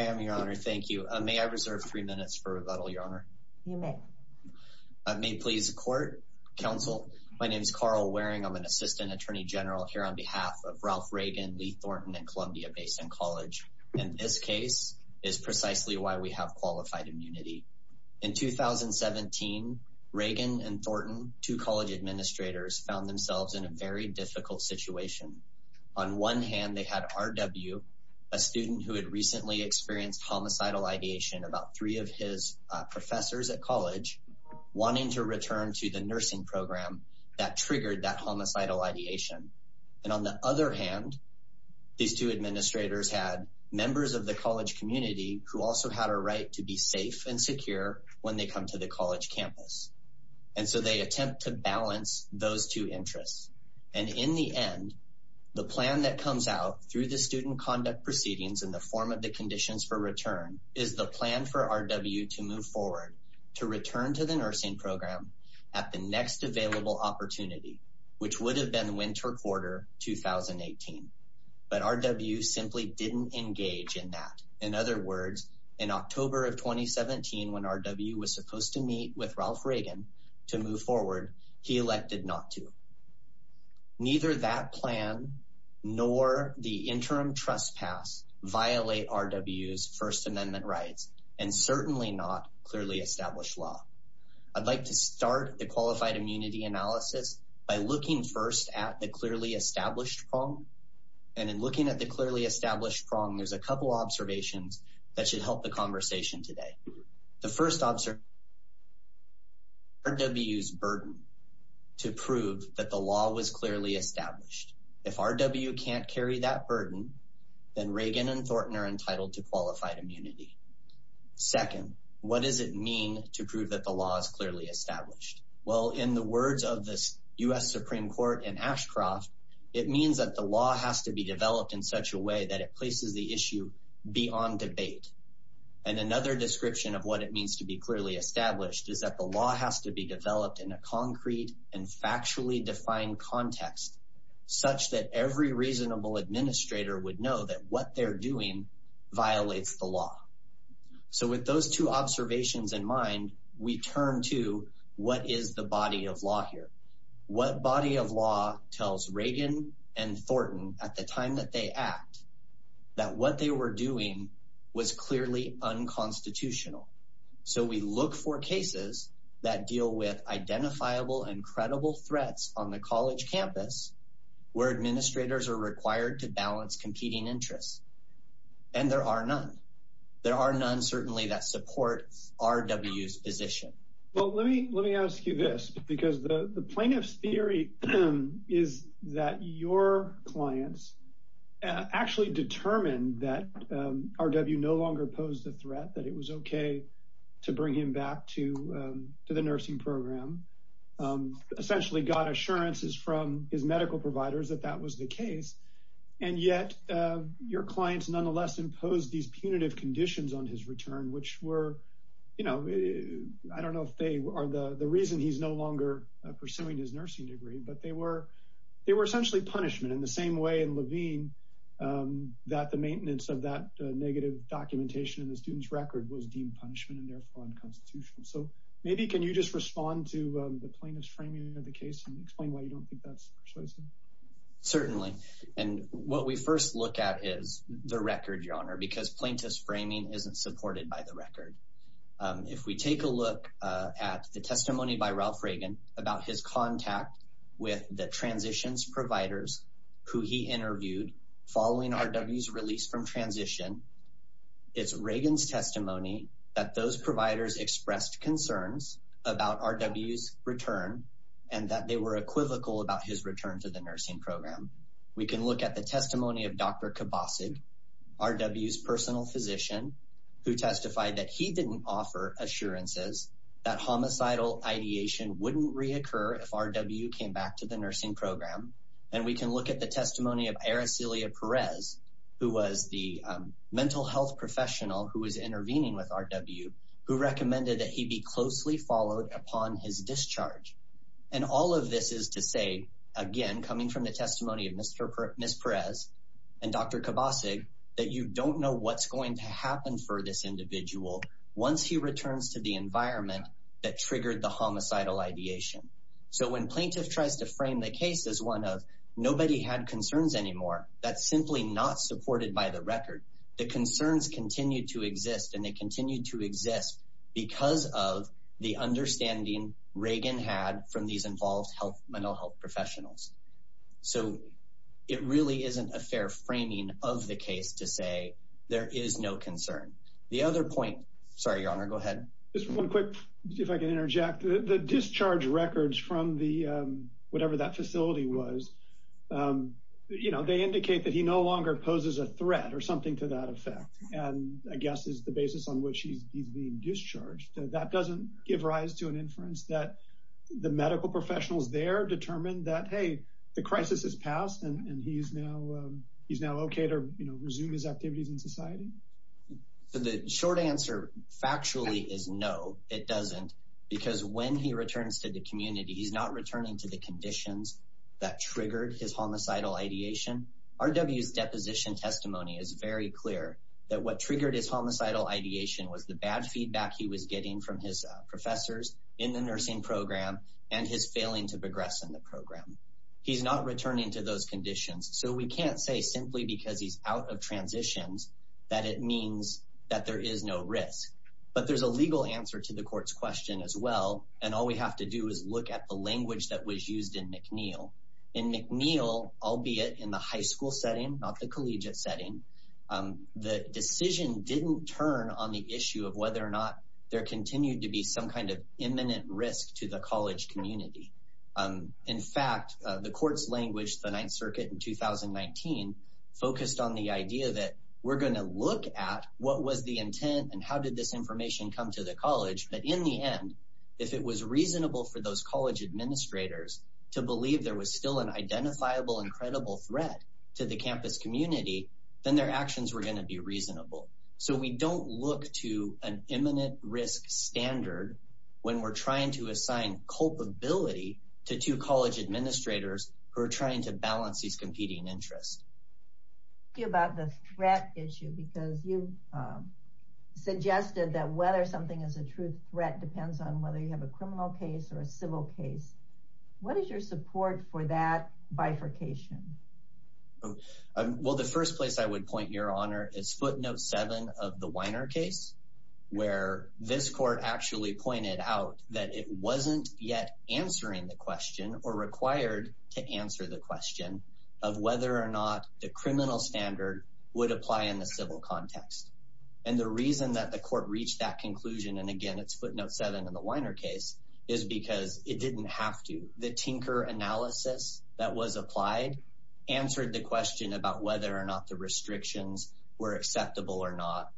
I am, Your Honor. Thank you. May I reserve three minutes for rebuttal, Your Honor? You may. May it please the Court. Counsel, my name is Carl Waring. I'm an Assistant Attorney General here on behalf of Ralph Reagan, Lee Thornton, and Columbia Basin College. And this case is precisely why we have qualified immunity. In 2017, Reagan and Thornton, two college administrators, found themselves in a very difficult situation. On one hand, they had R. W., a student who had recently experienced homicidal ideation, about three of his professors at college, wanting to return to the nursing program that triggered that homicidal ideation. And on the other hand, these two administrators had members of the college community who also had a right to be safe and secure when they come to the college campus. And so they attempt to balance those two interests. And in the end, the plan that comes out through the student conduct proceedings in the form of the conditions for return is the plan for R. W. to move forward, to return to the nursing program at the next available opportunity, which would have been winter quarter 2018. But R. W. simply didn't engage in that. In other words, in October of 2017, when R. W. was supposed to meet with Ralph Reagan to move forward, he elected not to. Neither that plan nor the interim trespass violate R. W.'s First Amendment rights, and certainly not clearly established law. I'd like to start the qualified immunity analysis by looking first at the clearly established prong. And in looking at the clearly established prong, there's a couple observations that should help the conversation today. The first observation R. W.'s burden to prove that the law was clearly established. If R. W. can't carry that burden, then Reagan and Thornton are entitled to qualified immunity. Second, what does it mean to prove that the law is clearly established? Well, in the words of the U.S. Supreme Court in Ashcroft, it means that the law has to be developed in such a way that it places the issue beyond debate. And another description of what it means to be clearly established is that the law has to be developed in a concrete and factually defined context, such that every reasonable administrator would know that what they're doing violates the law. So with those two observations in mind, we turn to what is the body of law here? What body of law tells Reagan and Thornton at the time that they act that what they were doing was clearly unconstitutional. So we look for cases that deal with identifiable and credible threats on the college campus where administrators are required to balance competing interests. And there are none. There are none certainly that support R. W.'s position. Well, let me let me ask you this, because the plaintiff's theory is that your clients actually determined that R. W. no longer posed the threat that it was OK to bring him back to the nursing program, essentially got assurances from his medical providers that that was the case. And yet your clients nonetheless imposed these punitive conditions on his return, which were, you know, I don't know if they are the reason he's no longer pursuing his nursing degree, but they were essentially punishment in the same way in Levine that the maintenance of that negative documentation in the student's record was deemed punishment and therefore unconstitutional. So maybe can you just respond to the plaintiff's framing of the case and explain why you don't think that's persuasive? Certainly. And what we first look at is the record, your honor, because plaintiff's framing isn't supported by the record. If we take a look at the testimony by Ralph Reagan about his contact with the transitions providers who he interviewed following R. W.'s release from transition, it's Reagan's testimony that those providers expressed concerns about R. W.'s return and that they were equivocal about his return to the nursing program. We can look at the testimony of Dr. Kabosig, R. W.'s personal physician, who testified that he didn't offer assurances that homicidal ideation wouldn't reoccur if R. W. came back to the nursing program. And we can look at the testimony of Aracelia Perez, who was the mental health professional who was intervening with R. W., who recommended that he be closely followed upon his discharge. And all of this is to say, again, coming from the testimony of Ms. Perez and Dr. Kabosig, that you don't know what's going to happen for this individual once he returns to the environment that triggered the homicidal ideation. So when plaintiff tries to frame the case as one of nobody had concerns anymore, that's simply not supported by the record. The concerns continue to exist and they continue to So it really isn't a fair framing of the case to say there is no concern. The other point, sorry, your honor, go ahead. Just one quick, if I can interject, the discharge records from the, whatever that facility was, you know, they indicate that he no longer poses a threat or something to that effect. And I guess is the basis on which he's being discharged. That doesn't give that the medical professionals there determined that, hey, the crisis has passed and he's now, he's now okay to resume his activities in society. So the short answer factually is no, it doesn't. Because when he returns to the community, he's not returning to the conditions that triggered his homicidal ideation. R. W.'s deposition testimony is very clear that what triggered his homicidal ideation was the bad feedback he was getting from his professors in the nursing program and his failing to progress in the program. He's not returning to those conditions. So we can't say simply because he's out of transitions, that it means that there is no risk, but there's a legal answer to the court's question as well. And all we have to do is look at the language that was used in McNeil in McNeil, albeit in the high school setting, not the collegiate setting. The decision didn't turn on the issue of whether or not there continued to be some kind of imminent risk to the college community. In fact, the court's language, the ninth circuit in 2019, focused on the idea that we're going to look at what was the intent and how did this information come to the college. But in the end, if it was reasonable for those college administrators to believe there was still an identifiable and credible threat to the campus community, then their actions were going to be reasonable. So we don't look to an imminent risk standard when we're trying to assign culpability to two college administrators who are trying to balance these competing interests. About the threat issue, because you suggested that whether something is a true threat depends on whether you have a criminal case or a civil case. What is your support for that bifurcation? Oh, well, the first place I would point, Your Honor, is footnote seven of the Weiner case, where this court actually pointed out that it wasn't yet answering the question or required to answer the question of whether or not the criminal standard would apply in the civil context. And the reason that the court reached that conclusion, and again, it's footnote seven of the Weiner case, is because it didn't have to. The Tinker analysis that was applied answered the question about whether or not the restrictions were acceptable or not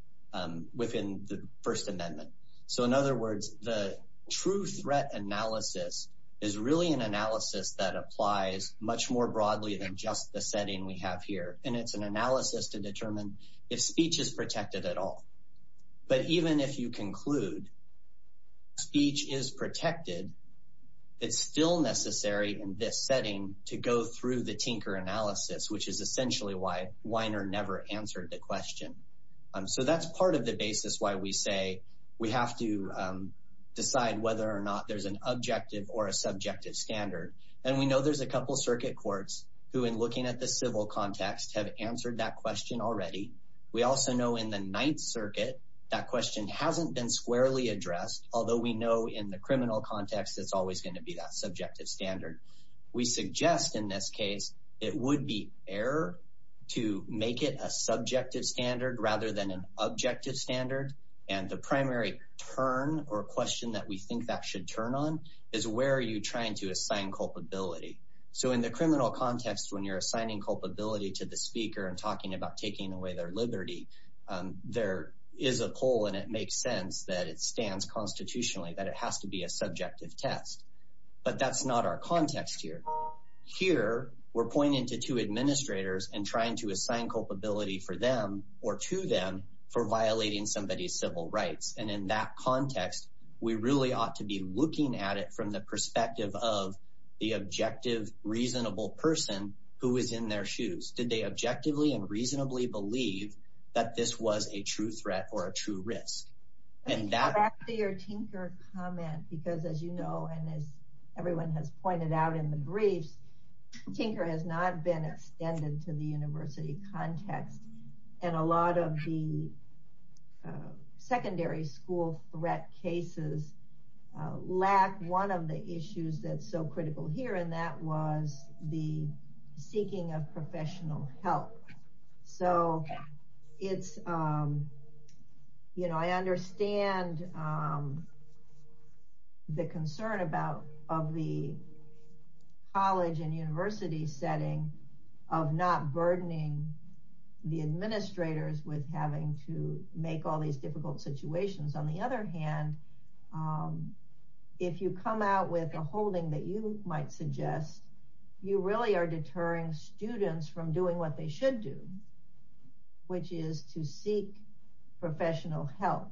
within the First Amendment. So in other words, the true threat analysis is really an analysis that applies much more broadly than just the setting we have here. And it's an analysis to determine if speech is protected at all. But even if you conclude speech is protected, it's still necessary in this setting to go through the Tinker analysis, which is essentially why Weiner never answered the question. So that's part of the basis why we say we have to decide whether or not there's an objective or a subjective standard. And we know there's a We also know in the Ninth Circuit, that question hasn't been squarely addressed, although we know in the criminal context, it's always going to be that subjective standard. We suggest in this case, it would be error to make it a subjective standard rather than an objective standard. And the primary turn or question that we think that should turn on is where are you trying to assign culpability. So in the criminal context, when you're assigning culpability to the speaker and talking about taking away their liberty, there is a poll and it makes sense that it stands constitutionally that it has to be a subjective test. But that's not our context here. Here, we're pointing to two administrators and trying to assign culpability for them or to them for violating somebody's civil rights. And in that context, we really ought to be looking at it from the perspective of the objective, reasonable person who is in their shoes. Did they objectively and reasonably believe that this was a true threat or a true risk? And that... Back to your Tinker comment, because as you know, and as everyone has pointed out in the briefs, Tinker has not been extended to the university context. And a lot of the secondary school threat cases lack one of the issues that's so critical here. And that was the seeking of professional help. So it's, you know, I understand the concern about of the college and university setting of not burdening the administrators with having to make all these difficult situations. On the other hand, if you come out with a holding that you might suggest, you really are deterring students from doing what they should do, which is to seek professional help.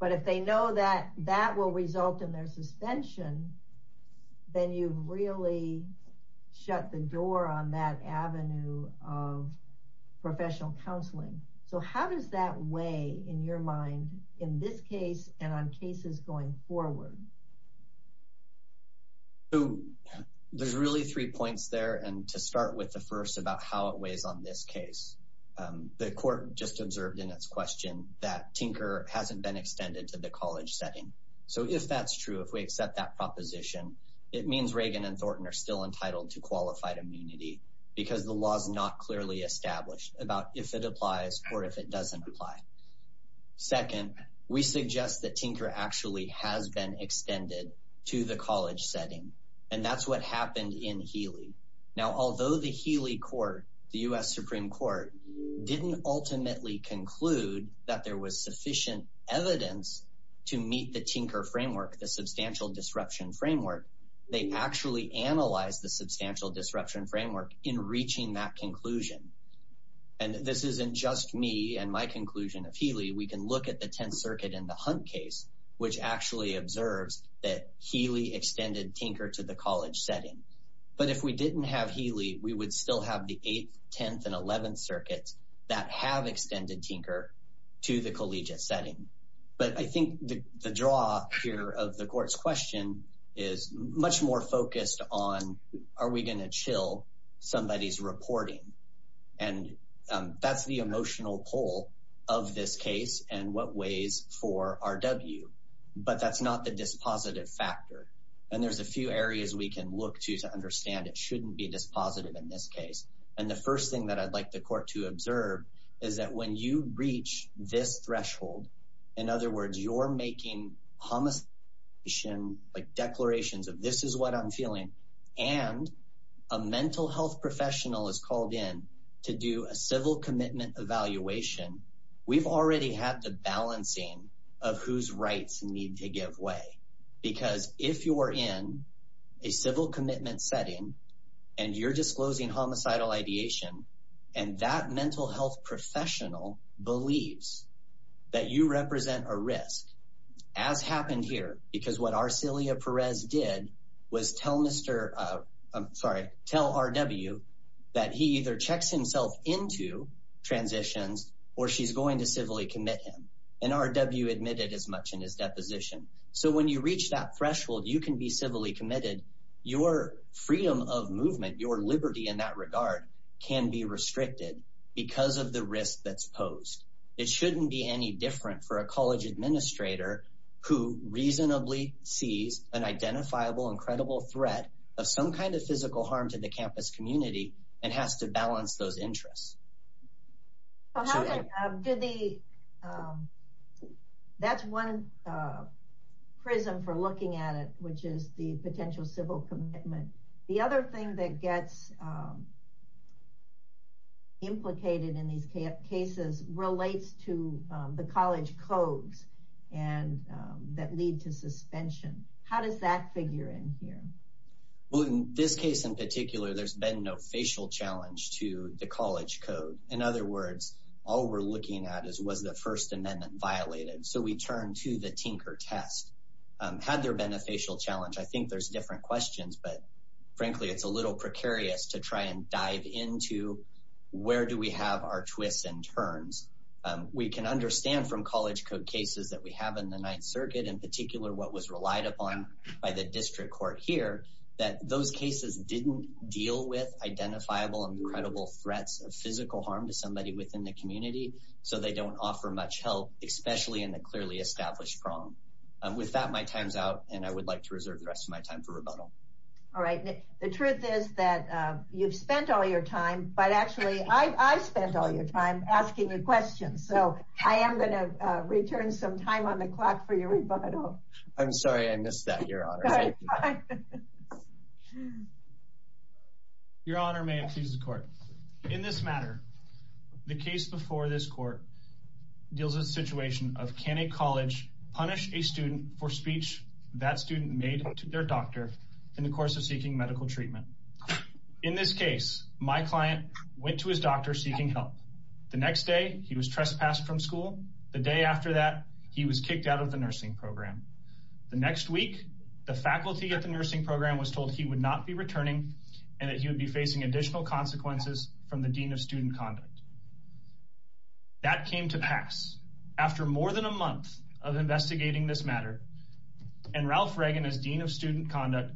But if they know that that will result in their suspension, then you've really shut the door on that avenue of professional counseling. So how does that weigh in your mind in this case and on cases going forward? There's really three points there. And to start with the first about how it weighs on this case, the court just observed in its question that Tinker hasn't been extended to the college setting. So if that's true, if we accept that proposition, it means Reagan and Thornton are still entitled to qualified immunity because the law is not clearly established about if it applies or if it doesn't apply. Second, we suggest that Tinker actually has been extended to the college setting. And that's what happened in Healy. Now, although the Healy court, the U.S. Supreme Court, didn't ultimately conclude that there was sufficient evidence to meet the Tinker framework, the substantial disruption framework, they actually analyzed the substantial disruption framework in reaching that conclusion. And this isn't just me and my conclusion of Healy. We can look at the 10th Circuit in the Hunt case, which actually observes that Healy extended Tinker to the college setting. But if we didn't have Healy, we would still have the 8th, 10th, and 11th of the court's question is much more focused on, are we going to chill somebody's reporting? And that's the emotional pull of this case and what ways for RW. But that's not the dispositive factor. And there's a few areas we can look to to understand it shouldn't be dispositive in this case. And the first thing that I'd like the court to observe is that when you reach this threshold, in other words, you're making homicidal ideation, like declarations of this is what I'm feeling, and a mental health professional is called in to do a civil commitment evaluation, we've already had the balancing of whose rights need to give way. Because if you're in a civil commitment setting, and you're disclosing homicidal ideation, and that mental health professional believes that you represent a risk, as happened here, because what Arcelia Perez did was tell Mr. I'm sorry, tell RW, that he either checks himself into transitions, or she's going to civilly commit him. And RW admitted as much in his deposition. So when you reach that threshold, you can be civilly committed, your freedom of movement, your liberty in that regard can be restricted, because of the risk that's posed, it shouldn't be any different for a college administrator, who reasonably sees an identifiable incredible threat of some kind of physical harm to the campus community, and has to balance those interests. That's one prism for looking at it, which is the potential civil commitment. The other thing that gets implicated in these cases relates to the college codes and that lead to suspension. How does that figure in here? Well, in this case, in particular, there's been no facial challenge to the college code. In other words, all we're looking at is was the First Amendment violated, so we turn to the Tinker test. Had there been a facial challenge? I think there's different questions. But frankly, it's a little precarious to try and dive into where do we have our twists and turns. We can understand from college code cases that we have in the Ninth Circuit, in particular, what was relied upon by the district court here, that those cases didn't deal with identifiable and credible threats of physical harm to somebody within the community. So they don't offer much help, especially in the clearly established prong. With that, my time's out, and I would like to reserve the rest of my time for rebuttal. All right. The truth is that you've spent all your time, but actually I spent all your time asking you questions. So I am going to return some time on the clock for your rebuttal. I'm sorry I missed that, Your Honor. Your Honor, may it please the Court. In this matter, the case before this Court deals with of can a college punish a student for speech that student made to their doctor in the course of seeking medical treatment? In this case, my client went to his doctor seeking help. The next day, he was trespassed from school. The day after that, he was kicked out of the nursing program. The next week, the faculty at the nursing program was told he would not be returning and that he would be facing additional consequences from the Dean of Student Conduct. That came to pass. After more than a month of investigating this matter, and Ralph Reagan as Dean of Student Conduct,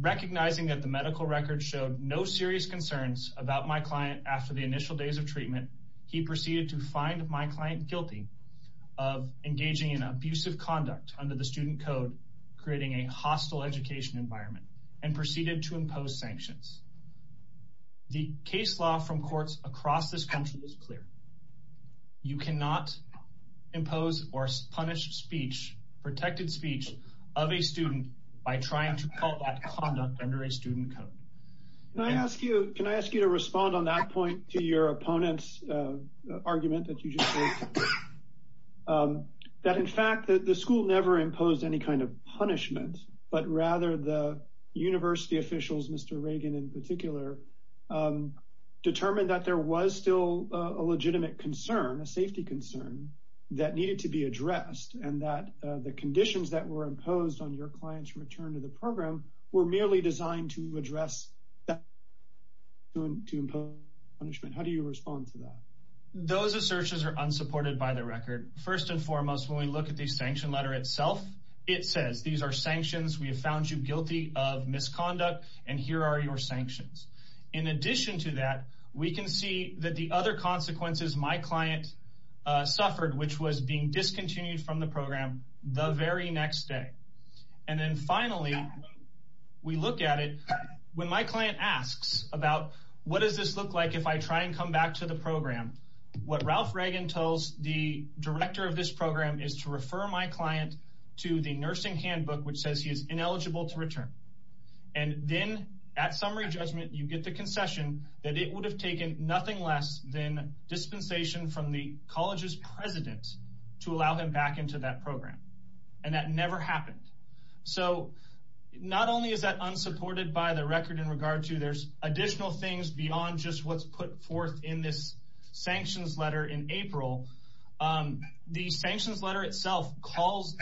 recognizing that the medical record showed no serious concerns about my client after the initial days of treatment, he proceeded to find my client guilty of engaging in abusive conduct under the student code, creating a hostile education environment, and proceeded to You cannot impose or punish speech, protected speech, of a student by trying to call that conduct under a student code. Can I ask you to respond on that point to your opponent's argument that you just made, that in fact the school never imposed any kind of punishment, but rather the university officials, Mr. Reagan in particular, determined that there was still a legitimate concern, a safety concern, that needed to be addressed and that the conditions that were imposed on your client's return to the program were merely designed to address to impose punishment. How do you respond to that? Those assertions are unsupported by the record. First and foremost, when we look at the sanction letter itself, it says these are sanctions, we have found you guilty of misconduct, and here are your sanctions. In addition to that, we can see that the other consequences my client suffered, which was being discontinued from the program the very next day. And then finally, we look at it, when my client asks about what does this look like if I try and come back to the program, what Ralph Reagan tells the director of this program is to refer my client to the nursing handbook, which says he is ineligible to return. And then at summary judgment, you get the concession that it would have taken nothing less than dispensation from the college's president to allow him back into that program, and that never happened. So not only is that unsupported by the record in regard to, there's additional things beyond just what's put forth in this sanctions letter in April. The sanctions letter itself calls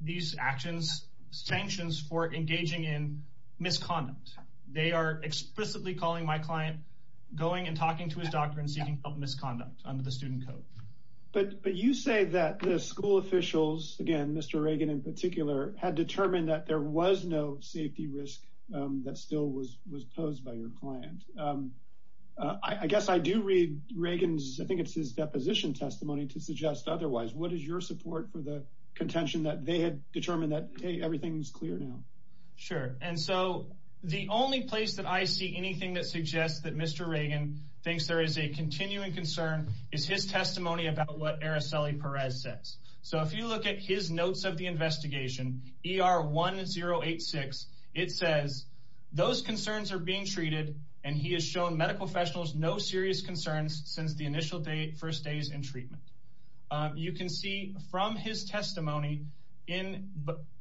these actions sanctions for engaging in misconduct. They are explicitly calling my client going and talking to his doctor and seeking help misconduct under the student code. But you say that the school officials, again, Mr. Reagan in particular, had determined that there was no safety risk that still was posed by your client. I guess I do read Reagan's, I think it's his deposition testimony to suggest otherwise, what is your support for the contention that they had determined that everything's clear now? Sure. And so the only place that I see anything that suggests that Mr. Reagan thinks there is a continuing concern is his testimony about what Araceli Perez says. So if you look at his notes of the investigation, ER1086, it says those concerns are being treated and he has shown medical professionals no serious concerns since the initial day, first days in treatment. You can see from his testimony in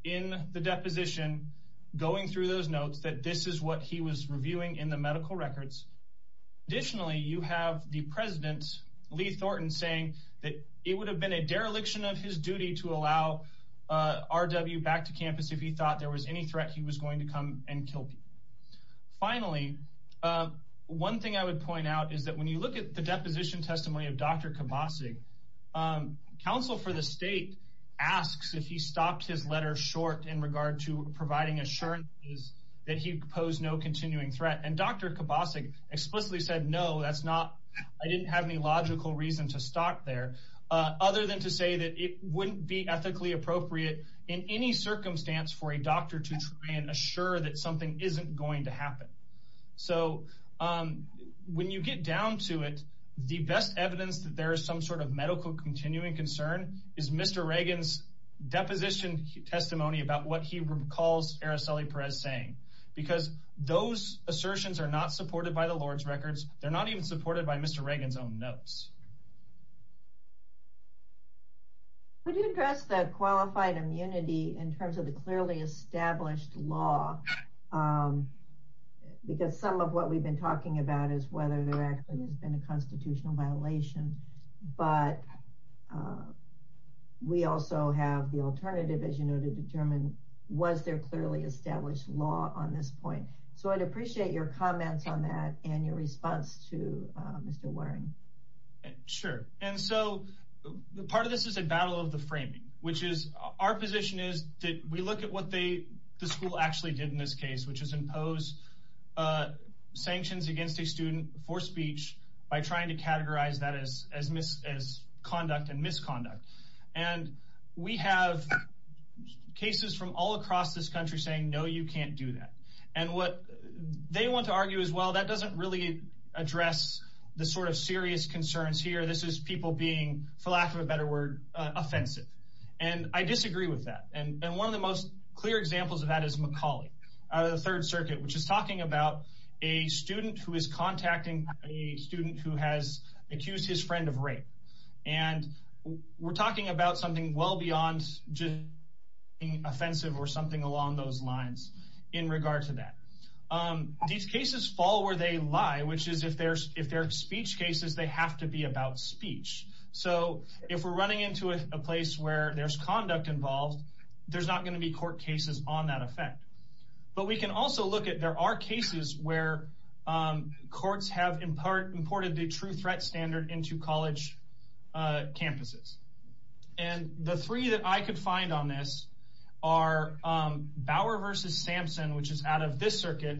the deposition, going through those notes that this is what he was reviewing in the medical records. Additionally, you have the president, Lee Thornton, saying that it would have been a dereliction of his duty to allow RW back to campus if he thought there was any threat he was going to come and kill people. Finally, one thing I would point out is that when you look at the deposition testimony of Dr. Khabbasi, counsel for the state asks if he stopped his letter short in regard to providing assurances that he posed no continuing threat. And Dr. Khabbasi explicitly said, no, that's not, I didn't have any logical reason to stop there, other than to say that it something isn't going to happen. So when you get down to it, the best evidence that there is some sort of medical continuing concern is Mr. Reagan's deposition testimony about what he recalls Araceli Perez saying, because those assertions are not supported by the Lord's records. They're not even supported by Mr. Reagan's own notes. Could you address the qualified immunity in terms of the clearly established law? Because some of what we've been talking about is whether there actually has been a constitutional violation, but we also have the alternative, as you know, to determine was there clearly established law on this point? So I'd appreciate your comments on that and your response to Mr. Waring. Sure. And so part of this is a battle of the framing, which is our position is that we look at what they, the school actually did in this case, which is impose sanctions against a student for speech by trying to categorize that as conduct and misconduct. And we have cases from all across this country saying, no, you can't do that. And what they want to argue as well, that doesn't really address the sort of serious concerns here. This is people being, for lack of a better word, offensive. And I disagree with that. And one of the most clear examples of that is McCauley out of the Third Circuit, which is talking about a student who is contacting a student who has accused his friend of rape. And we're talking about something well beyond just being offensive or something along those lines in regard to that. These cases fall where they lie, which is if they're speech cases, they have to be about speech. So if we're running into a place where there's conduct involved, there's not going to be court cases on that effect. But we can also look at, there are cases where courts have in part imported the true threat standard into college campuses. And the three that I could find on this are this circuit,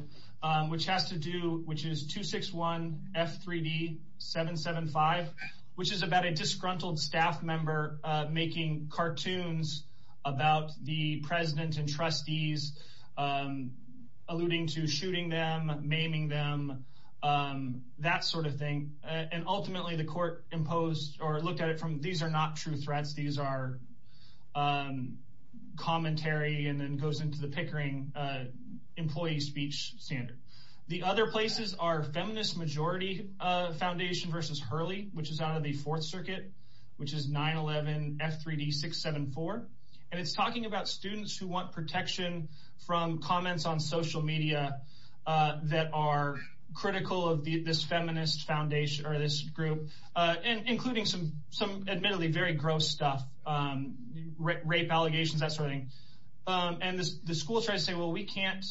which has to do, which is 261 F3D 775, which is about a disgruntled staff member making cartoons about the president and trustees, alluding to shooting them, maiming them, that sort of thing. And ultimately, the court imposed or looked at it from these are not true speech standard. The other places are Feminist Majority Foundation versus Hurley, which is out of the Fourth Circuit, which is 911 F3D 674. And it's talking about students who want protection from comments on social media that are critical of this feminist foundation or this group, including some admittedly very gross stuff, rape allegations, that sort of thing. And the school tries to say, well, we can't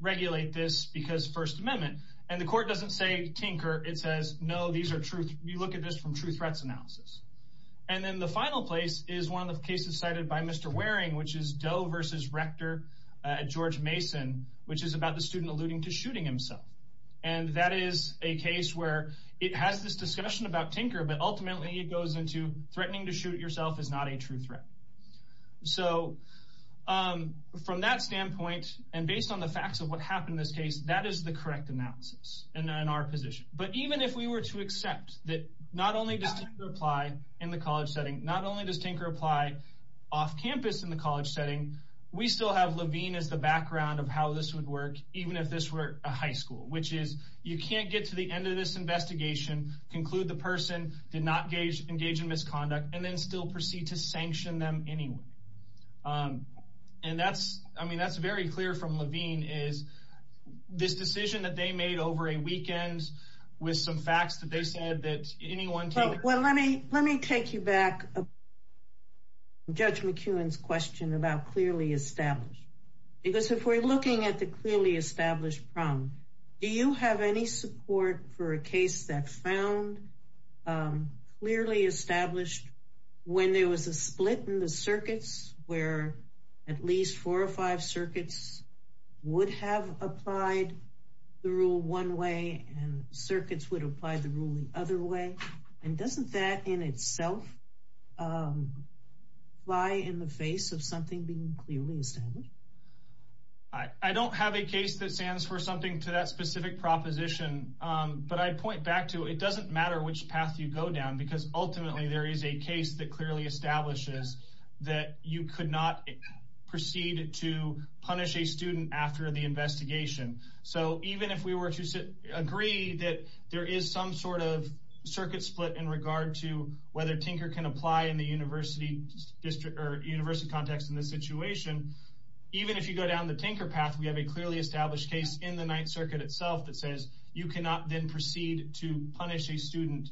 regulate this because First Amendment. And the court doesn't say tinker. It says, no, these are true. You look at this from true threats analysis. And then the final place is one of the cases cited by Mr. Waring, which is Doe versus Rector George Mason, which is about the student alluding to shooting himself. And that is a case where it has this discussion about tinker, but ultimately it goes into threatening to shoot yourself is not a true threat. So from that standpoint, and based on the facts of what happened in this case, that is the correct analysis in our position. But even if we were to accept that not only does tinker apply in the college setting, not only does tinker apply off campus in the college setting, we still have Levine as the background of how this would work, even if this were a high school, which is you can't get to the end of this investigation, conclude the person did not engage in misconduct and then still proceed to sanction them anyway. And that's, I mean, that's very clear from Levine is this decision that they made over a weekend with some facts that they said that anyone can. Well, let me take you back. Judge McEwen's question about clearly established, because if we're looking at the clearly established problem, do you have any support for a case that found clearly established when there was a split in the circuits where at least four or five circuits would have applied the rule one way and circuits would apply the ruling other way? And doesn't that in itself fly in the face of something being clearly established? I don't have a case that stands for something to that specific proposition, but I'd point back to it doesn't matter which path you go down, because ultimately there is a case that clearly establishes that you could not proceed to punish a student after the investigation. So even if we were to agree that there is some sort of circuit split in regard to whether tinker can apply in the district or university context in this situation, even if you go down the tinker path, we have a clearly established case in the Ninth Circuit itself that says you cannot then proceed to punish a student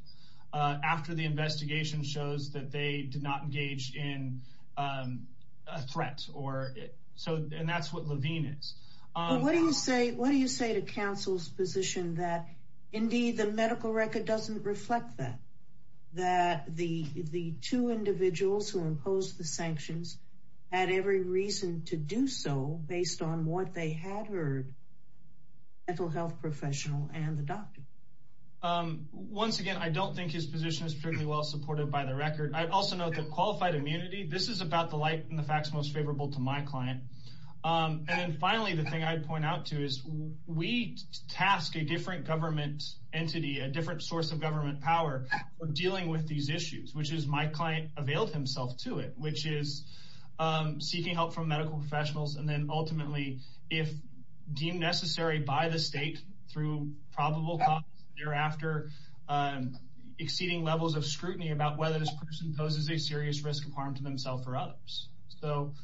after the investigation shows that they did not engage in a threat or so. And that's what Levine is. What do you say? What do you say to counsel's position that indeed the medical record doesn't reflect that, that the two individuals who imposed the sanctions had every reason to do so based on what they had heard, the mental health professional and the doctor? Once again, I don't think his position is particularly well supported by the record. I'd also note that qualified immunity, this is about the light and the facts most favorable to my client. And then finally, the thing I'd point out to is we task a different government entity, a different source of government power for dealing with these issues, which is my client availed himself to it, which is seeking help from medical professionals. And then ultimately, if deemed necessary by the state through probable cause thereafter, exceeding levels of scrutiny about whether this person poses a serious risk of harm to themselves or others. So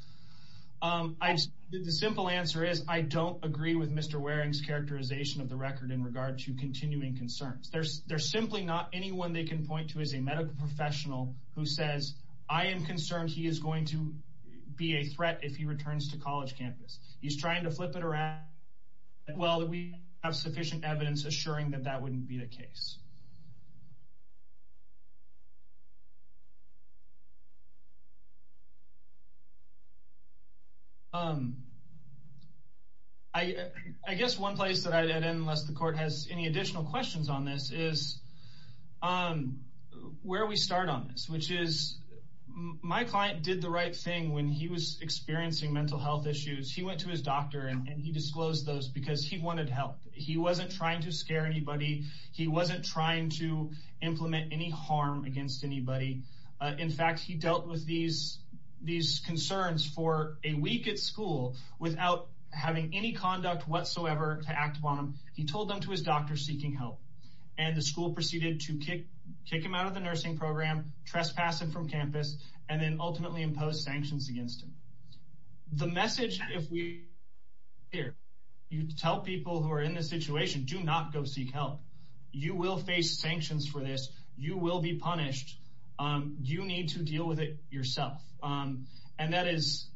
the simple answer is I don't agree with Mr. Waring's characterization of the record in regard to continuing concerns. There's simply not anyone they can point to as a medical professional who says, I am concerned he is going to be a threat if he returns to college campus. He's trying to flip it around. Well, we have sufficient evidence assuring that that wouldn't be the case. Um, I guess one place that I'd add in unless the court has any additional questions on this is, um, where we start on this, which is my client did the right thing when he was experiencing mental health issues. He went to his doctor and he disclosed those because he wanted help. He wasn't trying to scare anybody. He wasn't trying to implement any harm against anybody. Uh, in fact, he dealt with these, these concerns for a week at school without having any conduct whatsoever to act upon him. He told them to his doctor seeking help and the school proceeded to kick, kick him out of the nursing program, trespass and from campus, and then ultimately impose sanctions against him. The message, if we hear you tell people who are in this situation, do not go seek help. You will face sanctions for this. You will be punished. Um, you need to deal with it yourself. Um, and that is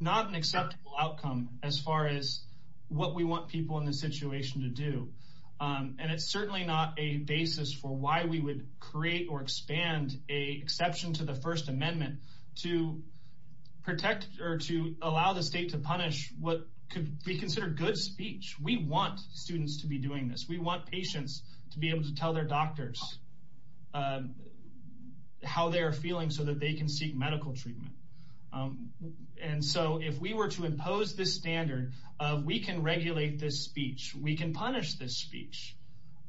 not an acceptable outcome as far as what we want people in this situation to do. Um, and it's certainly not a basis for why we would create or expand a exception to the first amendment to protect or to allow the state to punish what could be doing this. We want patients to be able to tell their doctors, um, how they're feeling so that they can seek medical treatment. Um, and so if we were to impose this standard of we can regulate this speech, we can punish this speech.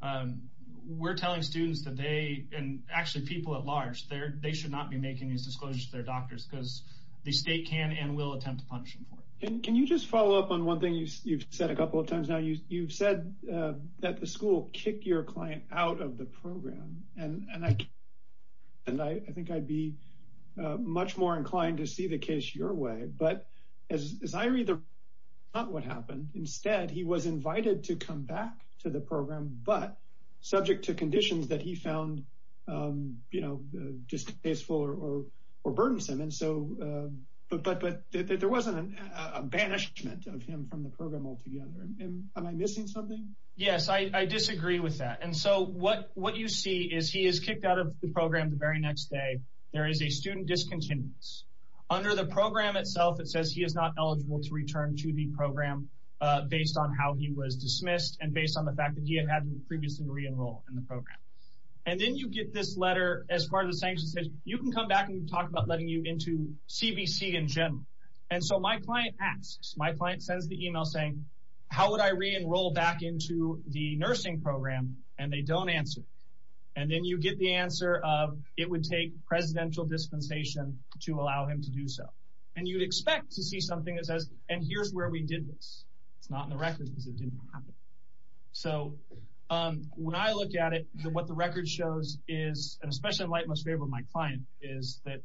Um, we're telling students that they, and actually people at large there, they should not be making these disclosures to their doctors because the state can and will attempt to punish them for it. Can you just follow up on one thing you've said a couple of times now, you've said, uh, that the school kicked your client out of the program. And, and I, and I, I think I'd be, uh, much more inclined to see the case your way, but as, as I read the, not what happened instead, he was invited to come back to the program, but subject to conditions that he found, um, you know, uh, distasteful or, or, or burdensome. And so, um, but, but, but there wasn't a banishment of him from the program altogether. Am I missing something? Yes. I, I disagree with that. And so what, what you see is he is kicked out of the program the very next day. There is a student discontinuance under the program itself. It says he is not eligible to return to the program, uh, based on how he was dismissed and based on the fact that he had had previously re-enrolled in the program. And then you get this letter as far as the sanction says, you can come back and talk about letting you into CBC in general. And so my client asks, my client sends the email saying, how would I re-enroll back into the nursing program? And they don't answer. And then you get the answer of, it would take presidential dispensation to allow him to do so. And you'd expect to see something that says, and here's where we did this. It's not in the records because it didn't happen. So, um, when I look at it, what the record shows is, and especially in most favor of my client is that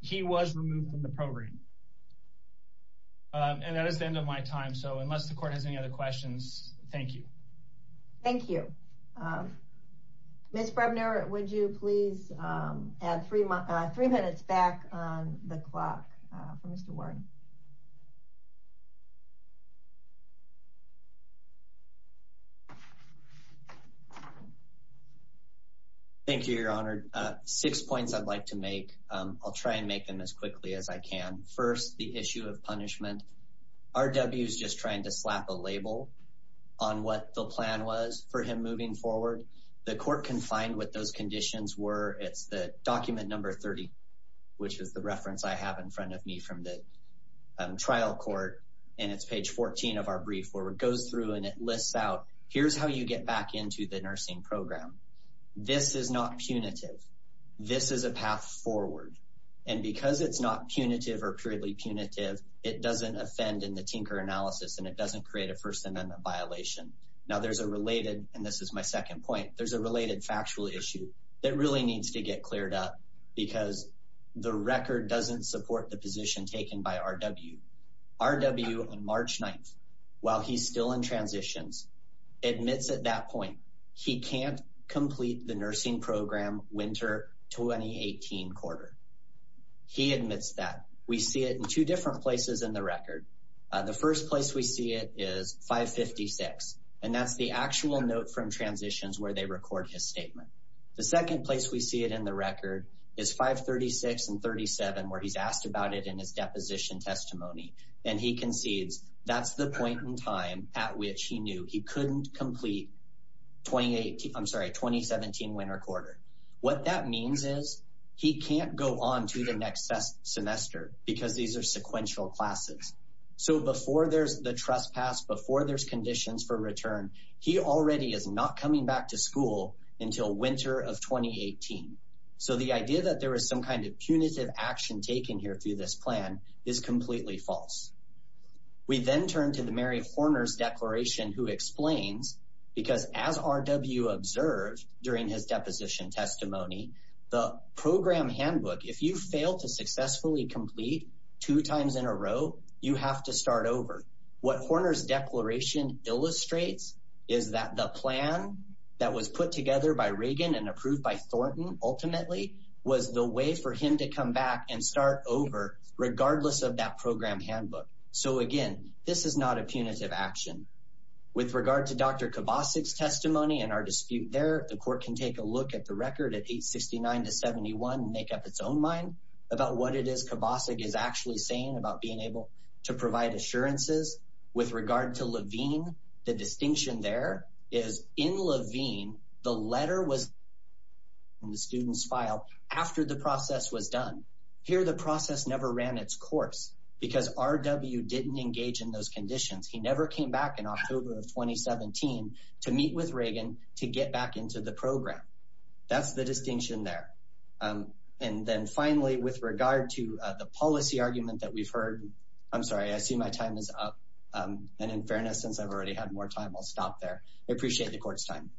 he was removed from the program. Um, and that is the end of my time. So unless the court has any other questions, thank you. Thank you. Um, Ms. Brebner, would you please, um, add three, uh, three minutes back on the clock, uh, for Mr. Warren. Thank you, Your Honor. Uh, six points I'd like to make. Um, I'll try and make them as quickly as I can. First, the issue of punishment. RW's just trying to slap a label on what the plan was for him moving forward. The court can find what those conditions were. It's the document number 30, which is the reference I have in front of me from the, um, trial court. And it's page 14 of our brief where it goes through and it lists out, here's how you get back into the nursing program. This is not punitive. This is a path forward. And because it's not punitive or purely punitive, it doesn't offend in the tinker analysis and it doesn't create a first amendment violation. Now there's a related, and this is my second point, there's a related factual issue that really needs to get cleared up because the record doesn't support the position taken by RW. RW on March 9th, while he's still in transitions, admits at that point he can't complete the nursing program winter 2018 quarter. He admits that. We see it in two different places in the record. Uh, the first place we see it is 556, and that's the actual note from transitions where they see it in the record is 536 and 37, where he's asked about it in his deposition testimony. And he concedes that's the point in time at which he knew he couldn't complete 2018. I'm sorry, 2017 winter quarter. What that means is he can't go on to the next semester because these are sequential classes. So before there's the trespass, before there's conditions for return, he already is not coming back to school until winter of 2018. So the idea that there was some kind of punitive action taken here through this plan is completely false. We then turn to the Mary Horner's declaration who explains because as RW observed during his deposition testimony, the program handbook, if you fail to successfully complete two times in a row, you have to start over. What Horner's declaration illustrates is that the plan that was put together by Reagan and approved by Thornton ultimately was the way for him to come back and start over regardless of that program handbook. So again, this is not a punitive action. With regard to Dr. Kovacic's testimony and our dispute there, the court can take a look at the record at 869 to 71 and make its own mind about what it is Kovacic is actually saying about being able to provide assurances. With regard to Levine, the distinction there is in Levine, the letter was in the student's file after the process was done. Here, the process never ran its course because RW didn't engage in those conditions. He never came back in October of 2017 to meet with Reagan to get back into the And then finally, with regard to the policy argument that we've heard, I'm sorry, I see my time is up. And in fairness, since I've already had more time, I'll stop there. I appreciate the court's time.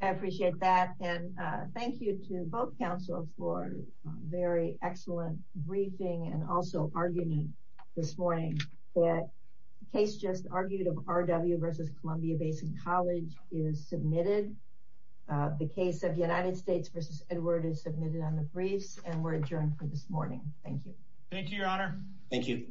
I appreciate that. And thank you to both counsel for a very excellent briefing and also arguing this morning that case just argued of RW versus Columbia Basin College is submitted. The case of United States versus Edward is submitted on the briefs and we're adjourned for this morning. Thank you. Thank you, your honor. Thank you.